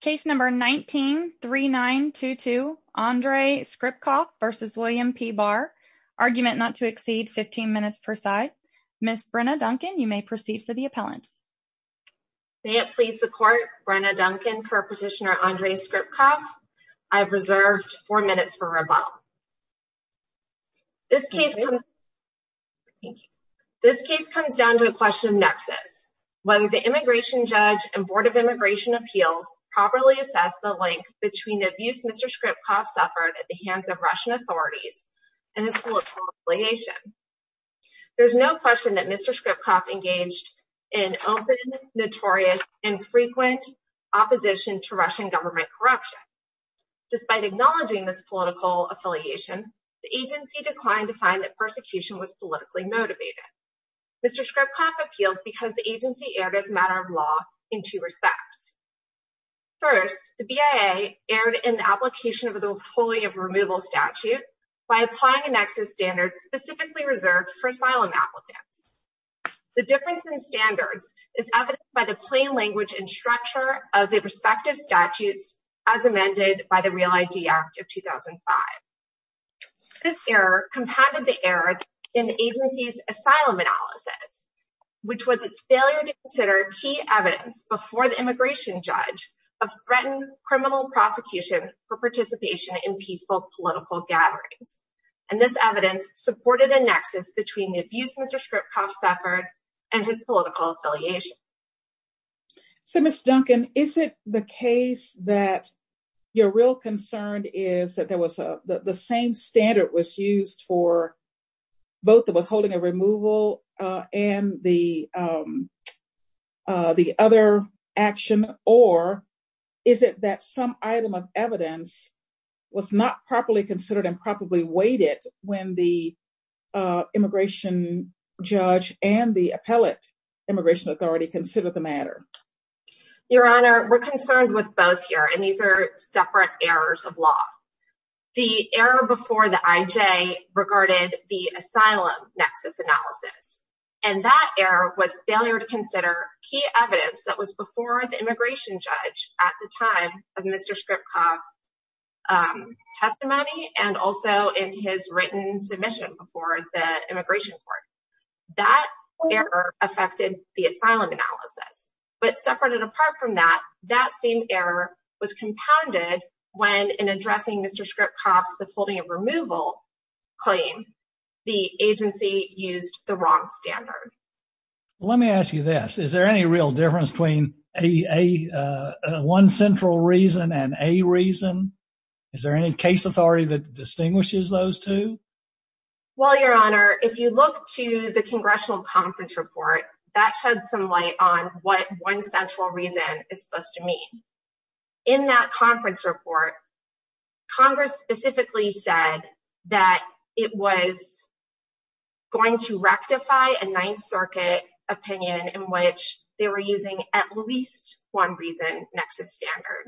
Case number 19-3922 Andrei Skripkov v. William P Barr Argument not to exceed 15 minutes per side Ms. Brenna Duncan, you may proceed for the appellant May it please the court, Brenna Duncan for Petitioner Andrei Skripkov I have reserved 4 minutes for rebuttal This case comes down to a question of nexus Whether the Immigration Judge and Board of Immigration Appeals properly assess the link between the abuse Mr. Skripkov suffered at the hands of Russian authorities and his political affiliation There is no question that Mr. Skripkov engaged in open, notorious, and frequent opposition to Russian government corruption Despite acknowledging this political affiliation, the agency declined to find that persecution was politically motivated Mr. Skripkov appeals because the agency erred as a matter of law in two respects First, the BIA erred in the application of the Employee of Removal Statute by applying a nexus standard specifically reserved for asylum applicants The difference in standards is evidenced by the plain language and structure of the respective statutes as amended by the Real ID Act of 2005 This error compounded the error in the agency's asylum analysis which was its failure to consider key evidence before the Immigration Judge of threatened criminal prosecution for participation in peaceful political gatherings And this evidence supported a nexus between the abuse Mr. Skripkov suffered and his political affiliation So Ms. Duncan, is it the case that your real concern is that the same standard was used for both the withholding of removal and the other action or is it that some item of evidence was not properly considered and properly weighted when the Immigration Judge and the Appellate Immigration Authority considered the matter? Your Honor, we're concerned with both here and these are separate errors of law The error before the IJ regarded the asylum nexus analysis and that error was failure to consider key evidence that was before the Immigration Judge at the time of Mr. Skripkov's testimony and also in his written submission before the Immigration Court That error affected the asylum analysis but separate and apart from that, that same error was compounded when in addressing Mr. Skripkov's withholding of removal claim the agency used the wrong standard Let me ask you this, is there any real difference between one central reason and a reason? Is there any case authority that distinguishes those two? Well, Your Honor, if you look to the Congressional Conference Report that sheds some light on what one central reason is supposed to mean In that conference report, Congress specifically said that it was going to rectify a Ninth Circuit opinion in which they were using at least one reason next to standard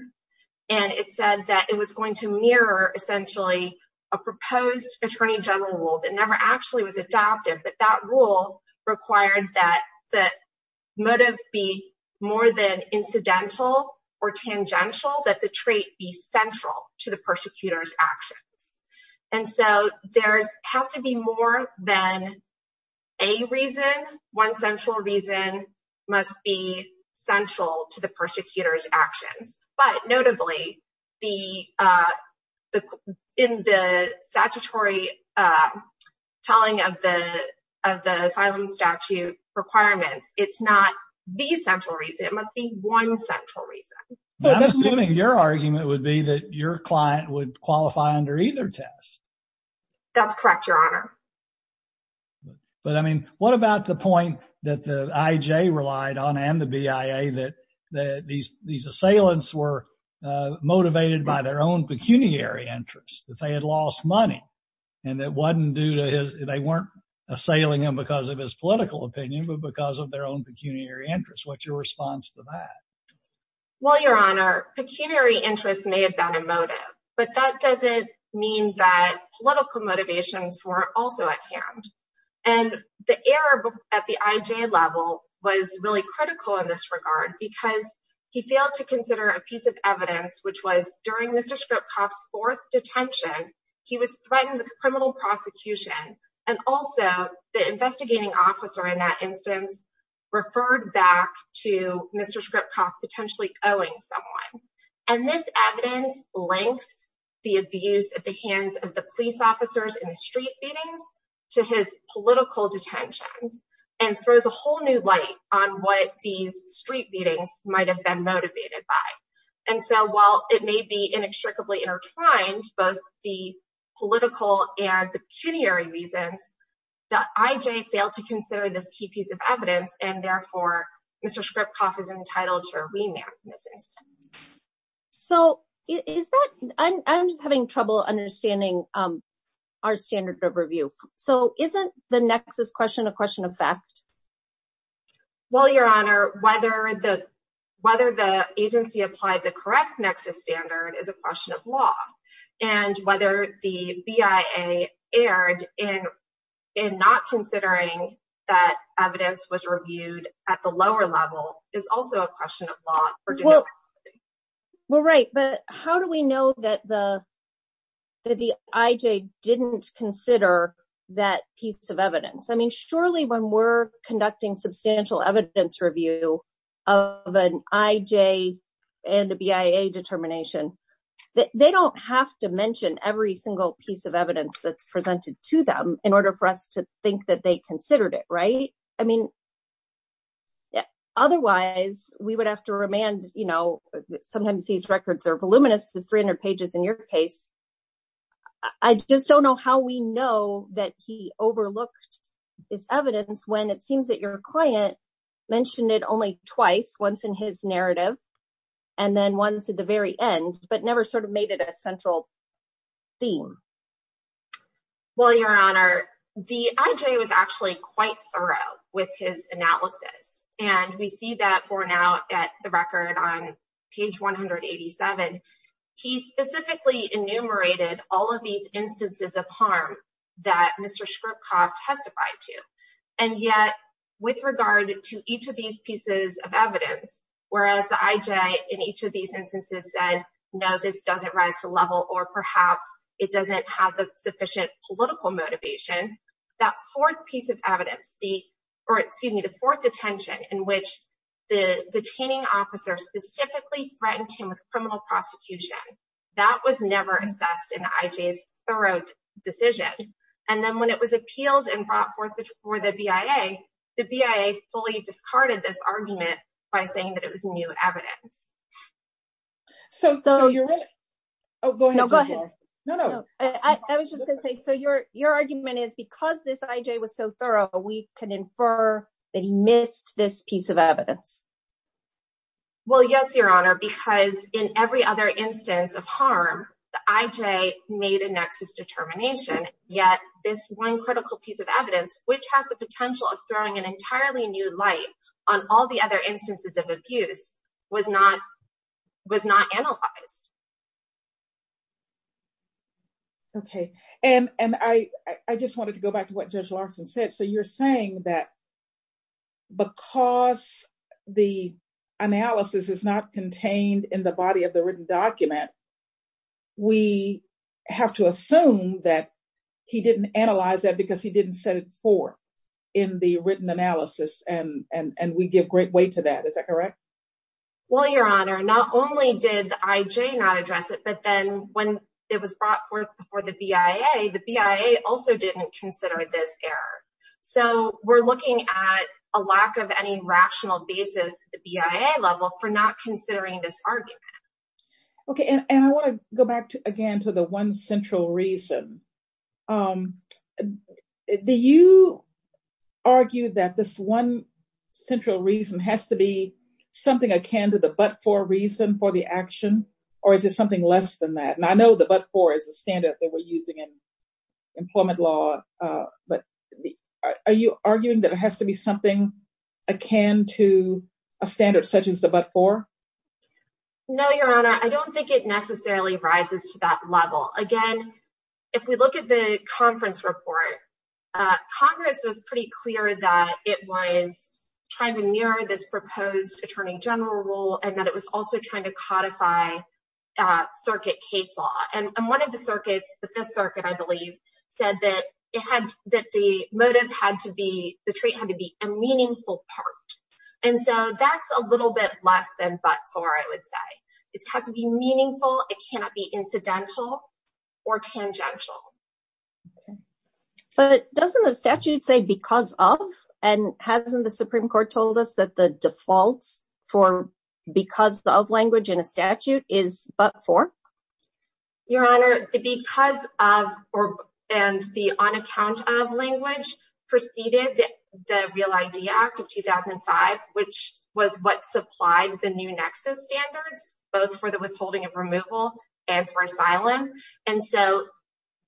and it said that it was going to mirror essentially a proposed Attorney General rule that never actually was adopted but that rule required that motive be more than incidental or tangential that the trait be central to the persecutor's actions And so there has to be more than a reason But notably, in the statutory telling of the asylum statute requirements it's not the central reason, it must be one central reason But I'm assuming your argument would be that your client would qualify under either test That's correct, Your Honor But I mean, what about the point that the IJ relied on and the BIA that these assailants were motivated by their own pecuniary interests that they had lost money and they weren't assailing him because of his political opinion but because of their own pecuniary interest What's your response to that? Well, Your Honor, pecuniary interest may have been a motive but that doesn't mean that political motivations were also at hand And the error at the IJ level was really critical in this regard because he failed to consider a piece of evidence which was during Mr. Skripkoff's fourth detention he was threatened with criminal prosecution and also the investigating officer in that instance referred back to Mr. Skripkoff potentially owing someone And this evidence links the abuse at the hands of the police officers in the street beatings to his political detentions and throws a whole new light on what these street beatings might have been motivated by And so while it may be inextricably intertwined both the political and the pecuniary reasons that IJ failed to consider this key piece of evidence and therefore Mr. Skripkoff is entitled to a remand in this instance So I'm just having trouble understanding our standard of review So isn't the nexus question a question of fact? Well, Your Honor, whether the agency applied the correct nexus standard is a question of law And whether the BIA erred in not considering that evidence was reviewed at the lower level is also a question of law Well, right But how do we know that the IJ didn't consider that piece of evidence? I mean, surely when we're conducting substantial evidence review of an IJ and a BIA determination they don't have to mention every single piece of evidence that's presented to them in order for us to think that they considered it, right? I mean, otherwise we would have to remand Sometimes these records are voluminous There's 300 pages in your case I just don't know how we know that he overlooked this evidence when it seems that your client mentioned it only twice once in his narrative and then once at the very end but never sort of made it a central theme Well, Your Honor, the IJ was actually quite thorough with his analysis and we see that borne out at the record on page 187 He specifically enumerated all of these instances of harm that Mr. Shkrupkov testified to and yet with regard to each of these pieces of evidence whereas the IJ in each of these instances said no, this doesn't rise to level or perhaps it doesn't have the sufficient political motivation that fourth piece of evidence or excuse me, the fourth detention in which the detaining officer specifically threatened him with criminal prosecution that was never assessed in the IJ's thorough decision and then when it was appealed and brought forth for the BIA the BIA fully discarded this argument by saying that it was new evidence So you're right Oh, go ahead No, go ahead No, no I was just going to say so your argument is because this IJ was so thorough we can infer that he missed this piece of evidence Well, yes, Your Honor because in every other instance of harm the IJ made a nexus determination yet this one critical piece of evidence which has the potential of throwing an entirely new light on all the other instances of abuse was not analyzed Okay, and I just wanted to go back to what Judge Larson said So you're saying that because the analysis is not contained in the body of the written document we have to assume that he didn't analyze that because he didn't set it forth in the written analysis and we give great weight to that Is that correct? Well, Your Honor, not only did the IJ not address it but then when it was brought forth before the BIA the BIA also didn't consider this error So we're looking at a lack of any rational basis at the BIA level for not considering this argument Okay, and I want to go back again to the one central reason Do you argue that this one central reason has to be something akin to the but-for reason for the action or is it something less than that? And I know the but-for is a standard that we're using in employment law but are you arguing that it has to be something akin to a standard such as the but-for? No, Your Honor, I don't think it necessarily rises to that level Again, if we look at the conference report Congress was pretty clear that it was trying to mirror this proposed Attorney General rule and that it was also trying to codify circuit case law And one of the circuits, the Fifth Circuit, I believe said that the motive had to be the trait had to be a meaningful part And so that's a little bit less than but-for, I would say It has to be meaningful It cannot be incidental or tangential But doesn't the statute say because of? And hasn't the Supreme Court told us that the default for because of language in a statute is but-for? Your Honor, the because of and the on account of language preceded the Real ID Act of 2005 which was what supplied the new nexus standards both for the withholding of removal and for asylum And so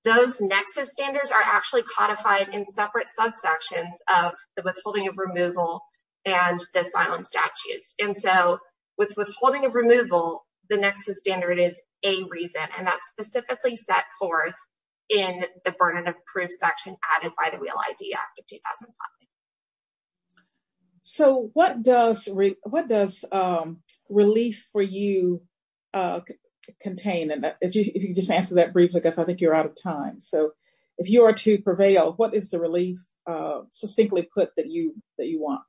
those nexus standards are actually codified in separate subsections of the withholding of removal and the asylum statutes And so with withholding of removal the nexus standard is a reason and that's specifically set forth in the burden of proof section added by the Real ID Act of 2005 So what does what does relief for you contain? And if you just answer that briefly because I think you're out of time So if you are to prevail what is the relief succinctly put that you that you want?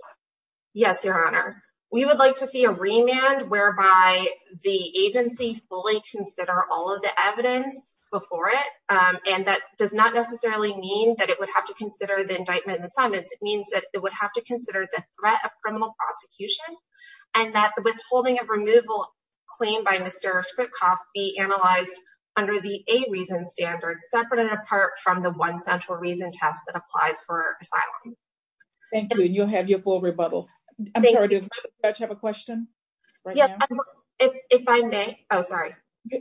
Yes, Your Honor We would like to see a remand whereby the agency fully consider all of the evidence before it and that does not necessarily mean that it would have to consider the indictment and summons It means that it would have to consider the threat of criminal prosecution and that the withholding of removal claim by Mr. Spritkoff be analyzed under the a reason standard separate and apart from the one central reason test that applies for asylum Thank you and you'll have your full rebuttal I'm sorry, did the judge have a question? Yes, if I may, oh sorry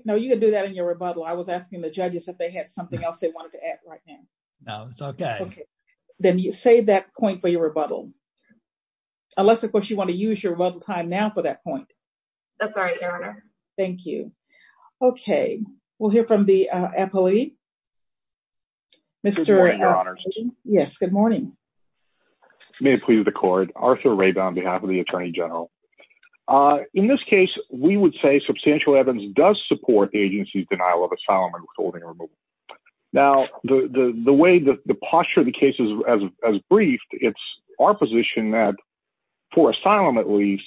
No, you can do that in your rebuttal I was asking the judges if they had something else they wanted to add right now No, it's okay Okay, then you save that point for your rebuttal Unless of course you want to use your rebuttal time now for that point That's all right, Your Honor Thank you Okay, we'll hear from the appellee Mr. Good morning, Your Honor Yes, good morning May it please the court Arthur Rabin on behalf of the Attorney General In this case, we would say substantial evidence does support the agency's denial of asylum and withholding removal Now, the way the posture of the case is as briefed it's our position that for asylum at least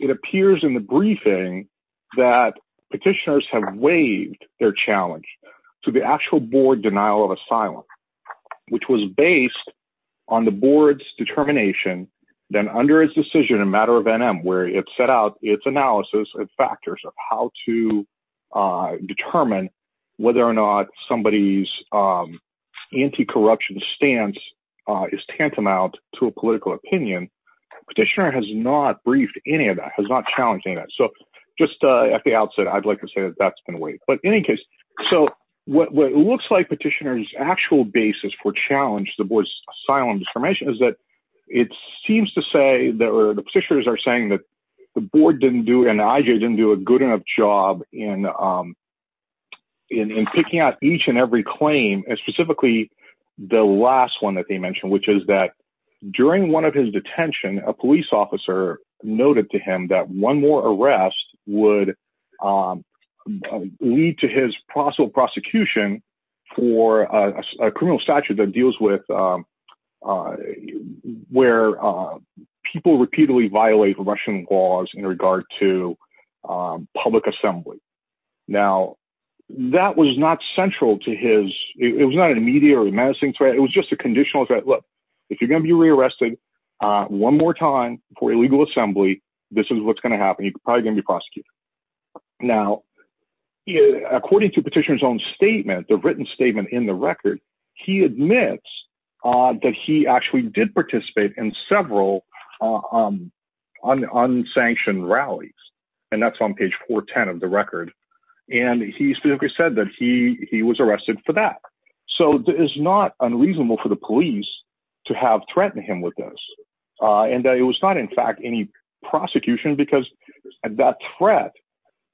it appears in the briefing that petitioners have waived their challenge to the actual board denial of asylum which was based on the board's determination then under its decision in matter of NM where it set out its analysis and factors of how to determine whether or not somebody's anti-corruption stance is tantamount to a political opinion Petitioner has not briefed any of that has not challenged any of that So just at the outset, I'd like to say that's been waived But in any case, so what it looks like for challenge the board's asylum discrimination is that it seems to say that the petitioners are saying that the board didn't do and I didn't do a good enough job in picking out each and every claim and specifically the last one that they mentioned which is that during one of his detention a police officer noted to him that one more arrest would lead his possible prosecution for a criminal statute that deals with where people repeatedly violate Russian laws in regard to public assembly Now that was not central to his It was not an immediate or a menacing threat It was just a conditional threat Look, if you're going to be rearrested one more time for illegal assembly this is what's going to happen You're probably going to be prosecuted Now, according to petitioner's own statement the written statement in the record he admits that he actually did participate in several unsanctioned rallies and that's on page 410 of the record and he specifically said that he was arrested for that So it is not unreasonable for the police to have threatened him with this and that it was not in fact any prosecution because that threat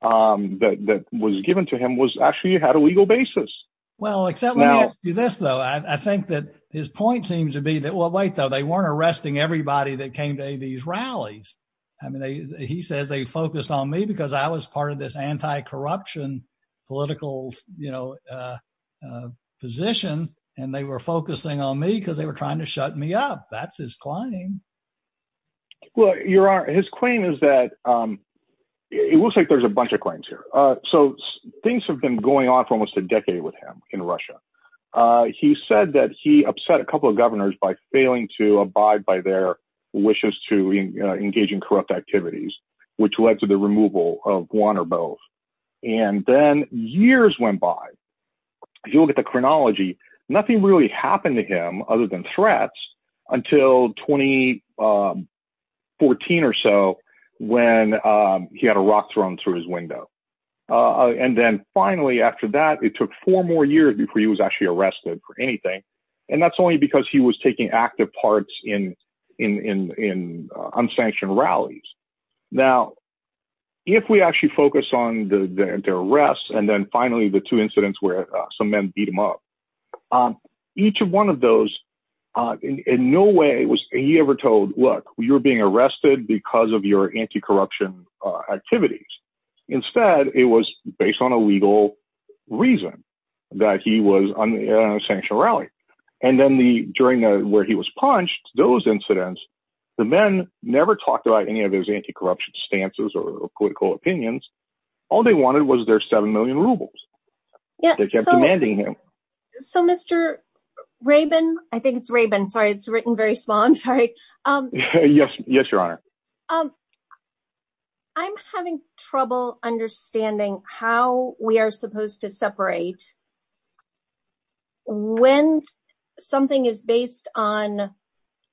that was given to him actually had a legal basis Well, except let me ask you this though I think that his point seems to be that well, wait though they weren't arresting everybody that came to any of these rallies I mean, he says they focused on me because I was part of this anti-corruption political position and they were focusing on me because they were trying to shut me up That's his claim Well, your honor, his claim is that it looks like there's a bunch of claims here So things have been going on for almost a decade with him in Russia He said that he upset a couple of governors by failing to abide by their wishes to engage in corrupt activities which led to the removal of one or both And then years went by If you look at the chronology nothing really happened to him other than threats until 2014 or so when he had a rock thrown through his window And then finally after that it took four more years before he was actually arrested for anything And that's only because he was taking active parts in unsanctioned rallies Now, if we actually focus on the arrests and then finally the two incidents where some men beat him up Each of one of those in no way was he ever told Look, you're being arrested because of your anti-corruption activities Instead, it was based on a legal reason that he was on a sanctioned rally And then during where he was punched those incidents the men never talked about any of his anti-corruption stances or political opinions All they wanted was their 7 million rubles They kept demanding him So, Mr. Rabin I think it's Rabin Sorry, it's written very small I'm sorry Yes, your honor I'm having trouble understanding how we are supposed to separate when something is based on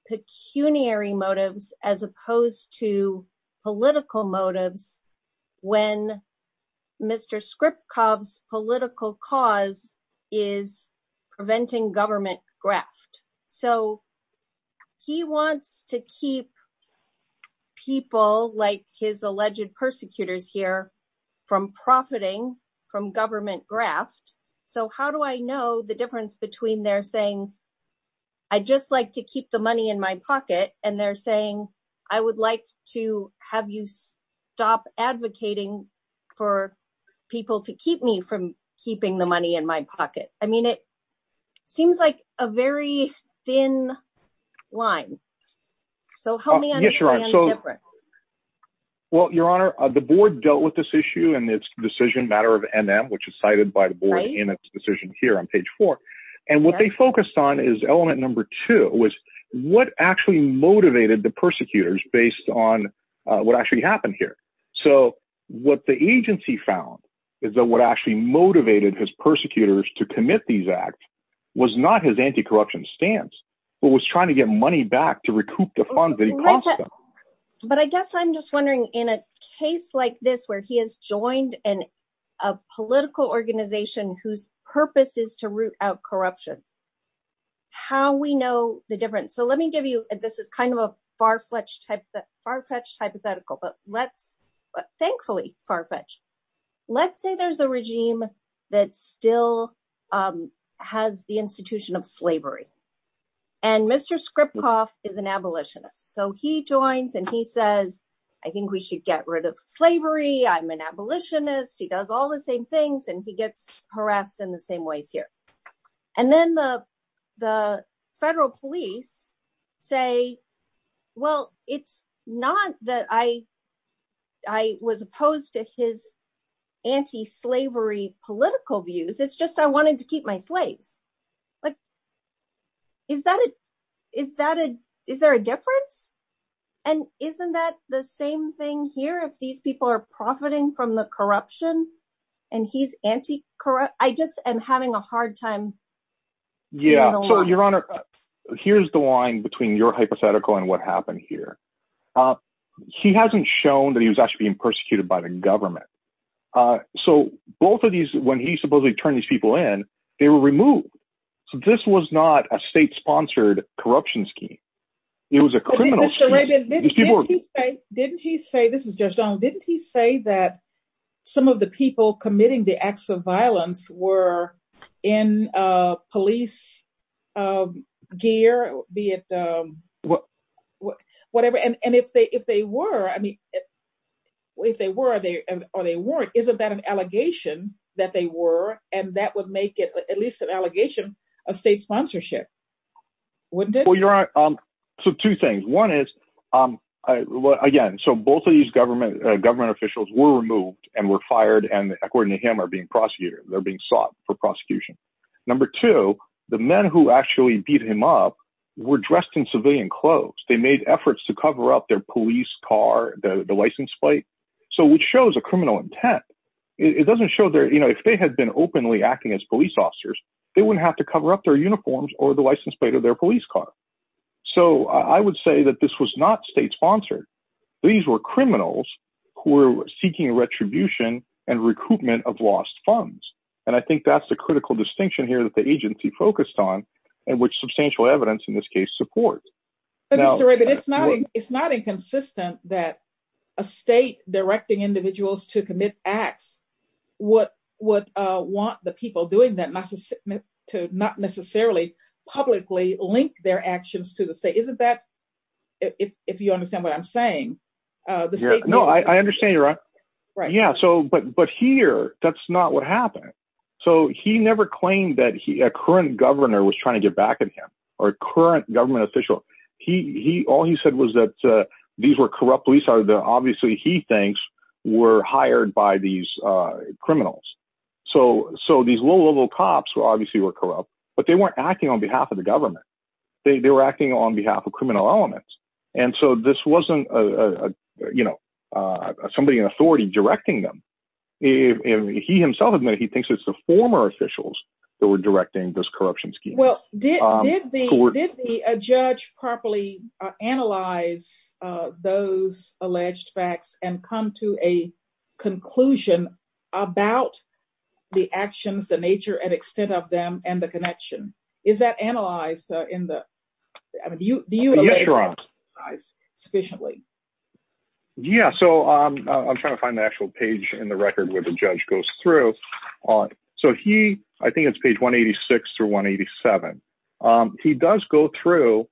pecuniary motives as opposed to political motives when Mr. Skripkov's political cause is preventing government graft So, he wants to keep people like his alleged persecutors here from profiting from government graft So, how do I know the difference between they're saying I just like to keep the money in my pocket and they're saying I would like to have you stop advocating for people to keep me from keeping the money in my pocket I mean, it seems like a very thin line So, help me understand the difference Well, your honor The board dealt with this issue and its decision matter of NM which is cited by the board in its decision here on page four And what they focused on is element number two was what actually motivated the persecutors based on what actually happened here So, what the agency found is that what actually motivated his persecutors to commit these acts was not his anti-corruption stance but was trying to get money back to recoup the funds that he cost them But I guess I'm just wondering in a case like this where he has joined a political organization whose purpose is to root out corruption how we know the difference? So, let me give you this is kind of a far-fetched hypothetical but let's, thankfully far-fetched Let's say there's a regime that still has the institution of slavery and Mr. Skripkov is an abolitionist So, he joins and he says I think we should get rid of slavery I'm an abolitionist He does all the same things and he gets harassed in the same ways here And then the federal police say Well, it's not that I was opposed to his anti-slavery political views It's just I wanted to keep my slaves Like, is there a difference? And isn't that the same thing here if these people are profiting from the corruption and he's anti-corruption? I just am having a hard time Yeah, so your honor Here's the line between your hypothetical and what happened here He hasn't shown that he was actually being persecuted by the government So, both of these when he supposedly turned these people in they were removed So, this was not a state-sponsored corruption scheme It was a criminal scheme Didn't he say This is Judge Donald Didn't he say that some of the people committing the acts of violence were in police gear? Be it whatever And if they were I mean, if they were or they weren't Isn't that an allegation that they were and that would make it at least an allegation of state sponsorship Wouldn't it? Well, your honor So, two things One is, again So, both of these government officials were removed and were fired and according to him are being prosecuted They're being sought for prosecution Number two, the men who actually beat him up were dressed in civilian clothes They made efforts to cover up their police car the license plate So, which shows a criminal intent It doesn't show their You know, if they had been openly acting as police officers they wouldn't have to cover up their uniforms or the license plate of their police car So, I would say that this was not state-sponsored These were criminals who were seeking retribution and recoupment of lost funds And I think that's the critical distinction here that the agency focused on and which substantial evidence in this case supports But Mr. Rivett, it's not inconsistent that a state directing individuals to commit acts would want the people doing that to not necessarily publicly link their actions to the state Isn't that, if you understand what I'm saying No, I understand you're right Yeah, so, but here that's not what happened So, he never claimed that a current governor was trying to get back at him or current government official All he said was that these were corrupt police or that obviously he thinks were hired by these criminals So, these low-level cops obviously were corrupt but they weren't acting on behalf of the government They were acting on behalf of criminal elements And so, this wasn't, you know somebody in authority directing them He himself admitted he thinks it's the former officials that were directing this corruption scheme Well, did the judge properly analyze those alleged facts and come to a conclusion about the actions, the nature and extent of them and the connection Is that analyzed in the, I mean, do you sufficiently Yeah, so, I'm trying to find the actual page in the record where the judge goes through So, he, I think it's page 186 through 187 He does go through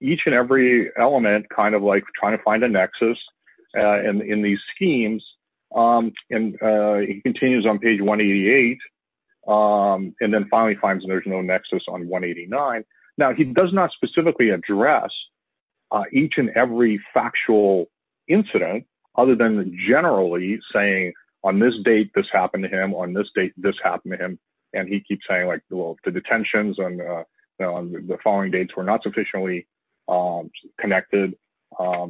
each and every element kind of like trying to find a nexus in these schemes and he continues on page 188 and then finally finds there's no nexus on 189 Now, he does not specifically address each and every factual incident other than generally saying on this date this happened to him, on this date this happened to him and he keeps saying like, well, the detentions on the following dates were not sufficiently connected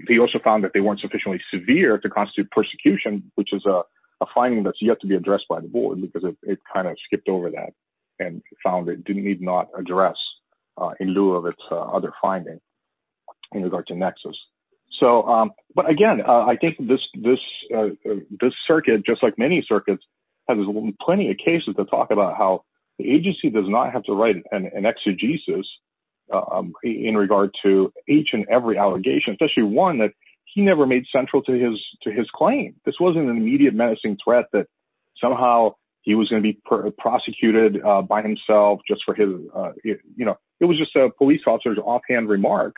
He also found that they weren't sufficiently severe to constitute persecution which is a finding that's yet to be addressed by the board because it kind of skipped over that and found it did need not address in lieu of its other finding in regard to nexus So, but again, I think this circuit just like many circuits has plenty of cases to talk about how the agency does not have to write an exegesis in regard to each and every allegation especially one that he never made central to his claim This wasn't an immediate menacing threat that somehow he was going to be prosecuted by himself just for his, you know It was just a police officer's offhand remark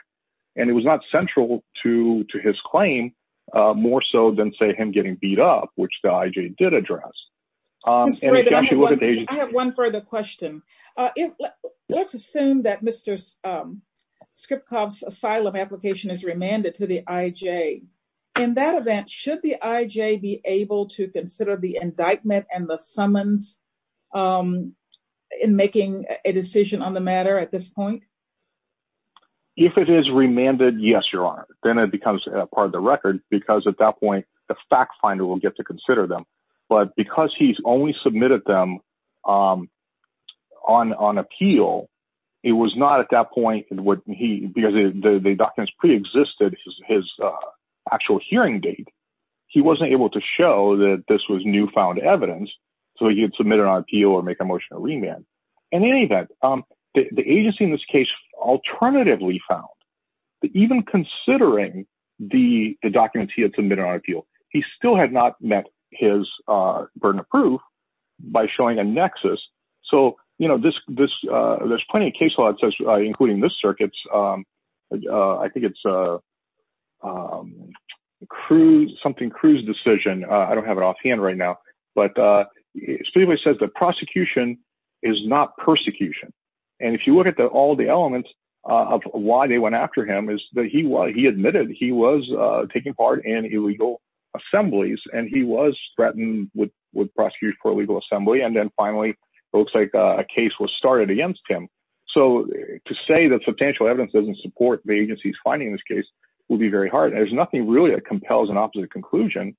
and it was not central to his claim more so than say him getting beat up which the IJ did address I have one further question Let's assume that Mr. Skripkov's asylum application is remanded to the IJ In that event, should the IJ be able to consider the indictment and the summons in making a decision on the matter at this point? If it is remanded, yes, your honor Then it becomes a part of the record because at that point the fact finder will get to consider them but because he's only submitted them on appeal it was not at that point because the documents pre-existed his actual hearing date he wasn't able to show that this was newfound evidence so he had submitted on appeal or make a motion to remand In any event, the agency in this case alternatively found even considering the documents he had submitted on appeal he still had not met his burden of proof by showing a nexus So, you know, there's plenty of case law including this circuit's I think it's something Cruz decision I don't have it offhand right now but Spivak says that prosecution is not persecution and if you look at all the elements of why they went after him is that he admitted he was taking part in illegal assemblies and he was threatened with prosecutors for illegal assembly and then finally it looks like a case was started against him So to say that substantial evidence doesn't support the agency's finding this case will be very hard There's nothing really that compels an opposite conclusion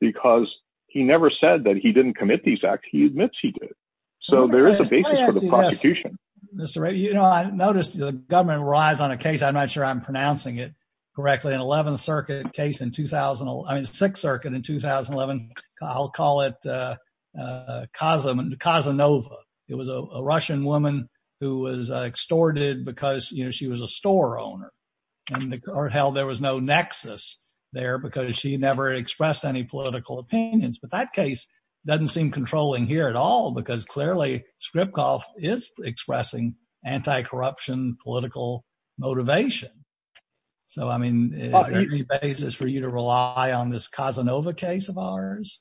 because he never said that he didn't commit these acts He admits he did So there is a basis for the prosecution Mr. Wright, you know, I noticed the government rise on a case I'm not sure I'm pronouncing it correctly 11th Circuit case in 2000 I mean, 6th Circuit in 2011 I'll call it Casanova It was a Russian woman who was extorted because, you know, she was a store owner and there was no nexus there because she never expressed any political opinions But that case doesn't seem controlling here at all because clearly Skripkov is expressing anti-corruption political motivation So, I mean, is there any basis for you to rely on this Casanova case of ours?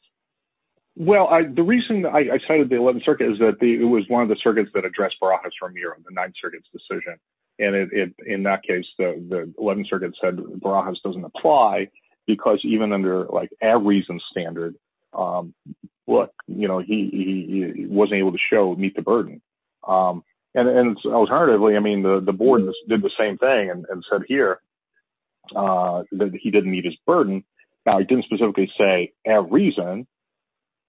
Well, the reason I cited the 11th Circuit is that it was one of the circuits that addressed Barahas-Ramiro in the 9th Circuit's decision And in that case, the 11th Circuit said Barahas doesn't apply because even under, like, a reason standard look, you know, he wasn't able to show meet the burden And alternatively, I mean, the board did the same thing and said here that he didn't meet his burden Now, he didn't specifically say a reason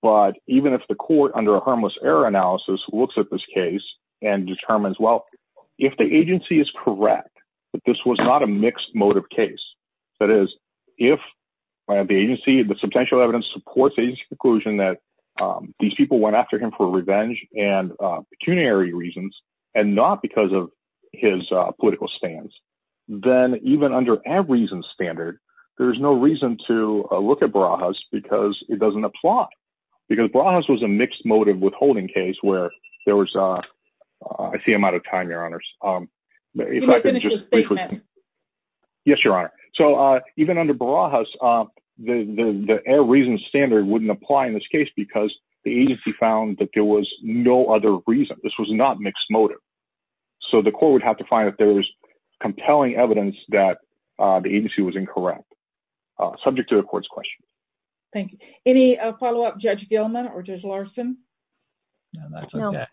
But even if the court, under a harmless error analysis, looks at this case and determines well, if the agency is correct that this was not a mixed motive case That is, if the agency, the substantial evidence supports the agency's conclusion that these people went after him for revenge and pecuniary reasons and not because of his political stance then even under a reason standard there's no reason to look at Barahas because it doesn't apply Because Barahas was a mixed motive withholding case where there was I see I'm out of time, Your Honors Can you finish your statement? Yes, Your Honor So even under Barahas, the error reason standard wouldn't apply in this case because the agency found that there was no other reason This was not mixed motive So the court would have to find that there's compelling evidence that the agency was incorrect subject to the court's questions Thank you Any follow-up, Judge Gilman or Judge Larson? No, that's okay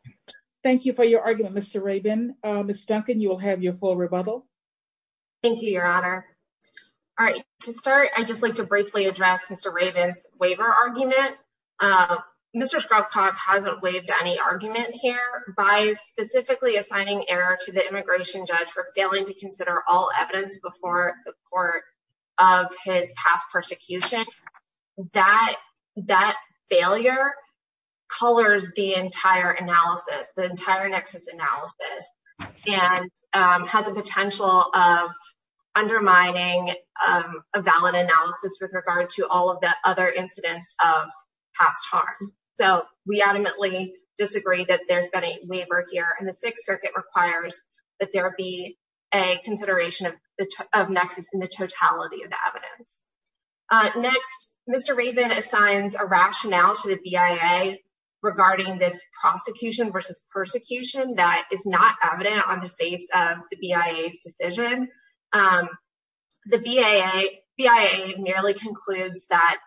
Thank you for your argument, Mr. Rabin Ms. Duncan, you will have your full rebuttal Thank you, Your Honor All right, to start, I'd just like to briefly address Mr. Rabin's waiver argument Mr. Skropkov hasn't waived any argument here by specifically assigning error to the immigration judge for failing to consider all evidence before the court of his past persecution That failure colors the entire analysis the entire nexus analysis and has a potential of undermining a valid analysis with regard to all of the other incidents of past harm So we adamantly disagree that there's been a waiver here and the Sixth Circuit requires that there be a consideration of the nexus in the totality of the evidence Next, Mr. Rabin assigns a rationale to the BIA regarding this prosecution versus persecution that is not evident on the face of the BIA's decision The BIA merely concludes that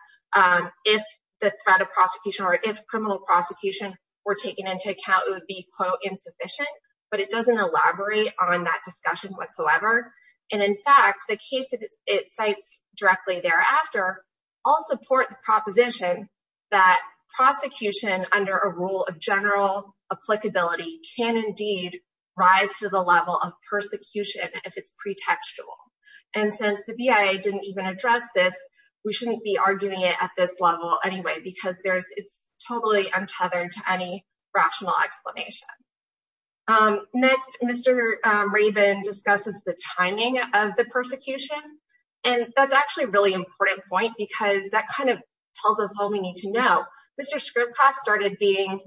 if the threat of prosecution or if criminal prosecution were taken into account it would be, quote, insufficient but it doesn't elaborate on that discussion whatsoever And in fact, the case it cites directly thereafter all support the proposition that prosecution under a rule of general applicability can indeed rise to the level of persecution if it's pretextual And since the BIA didn't even address this we shouldn't be arguing it at this level anyway because it's totally untethered to any rational explanation Next, Mr. Rabin discusses the timing of the persecution And that's actually a really important point because that kind of tells us all we need to know Mr. Scribka started being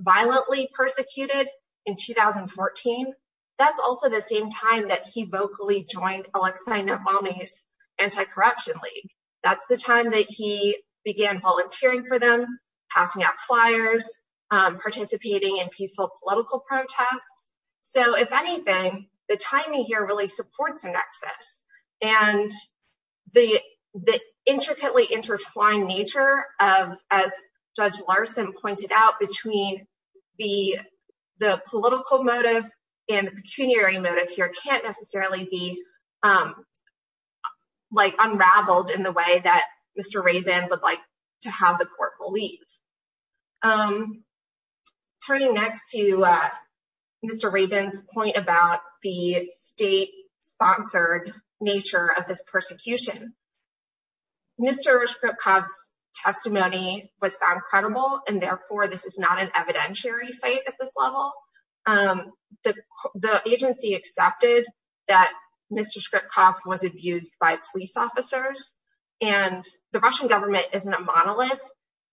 violently persecuted in 2014 That's also the same time that he vocally joined Alexei Navalny's anti-corruption league That's the time that he began volunteering for them, passing out flyers, participating in peaceful political protests So if anything, the timing here really supports a nexus And the intricately intertwined nature of, as Judge Larson pointed out, between the political motive and the pecuniary motive here can't necessarily be unraveled in the way that Mr. Rabin would like to have the court believe Turning next to Mr. Rabin's point about the state-sponsored nature of this persecution Mr. Scribka's testimony was found credible and therefore this is not an evidentiary fight at this level The agency accepted that Mr. Scribka was abused by police officers And the Russian government isn't a monolith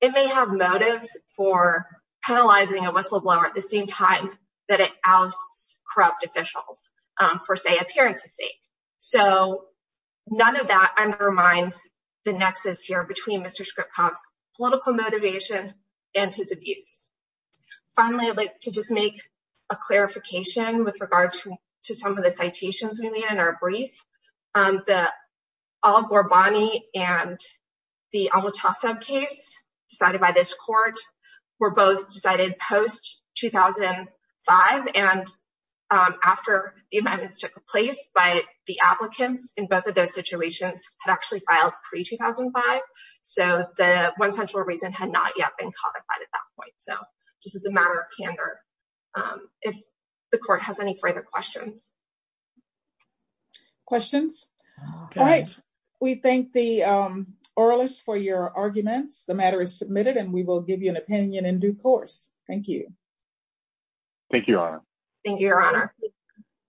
It may have motives for penalizing a whistleblower at the same time that it ousts corrupt officials for, say, appearances sake So none of that undermines the nexus here between Mr. Scribka's political motivation and his abuse Finally, I'd like to just make a clarification with regard to some of the citations we made in our brief The Al-Ghorbani and the Awatah sub-case decided by this court were both decided post-2005 and after the amendments took place by the applicants in both of those situations had actually filed pre-2005 So the one central reason had not yet been codified at that point So this is a matter of candor If the court has any further questions All right, we thank the oralists for your arguments The matter is submitted and we will give you an opinion in due course Thank you, Your Honor Thank you, Your Honor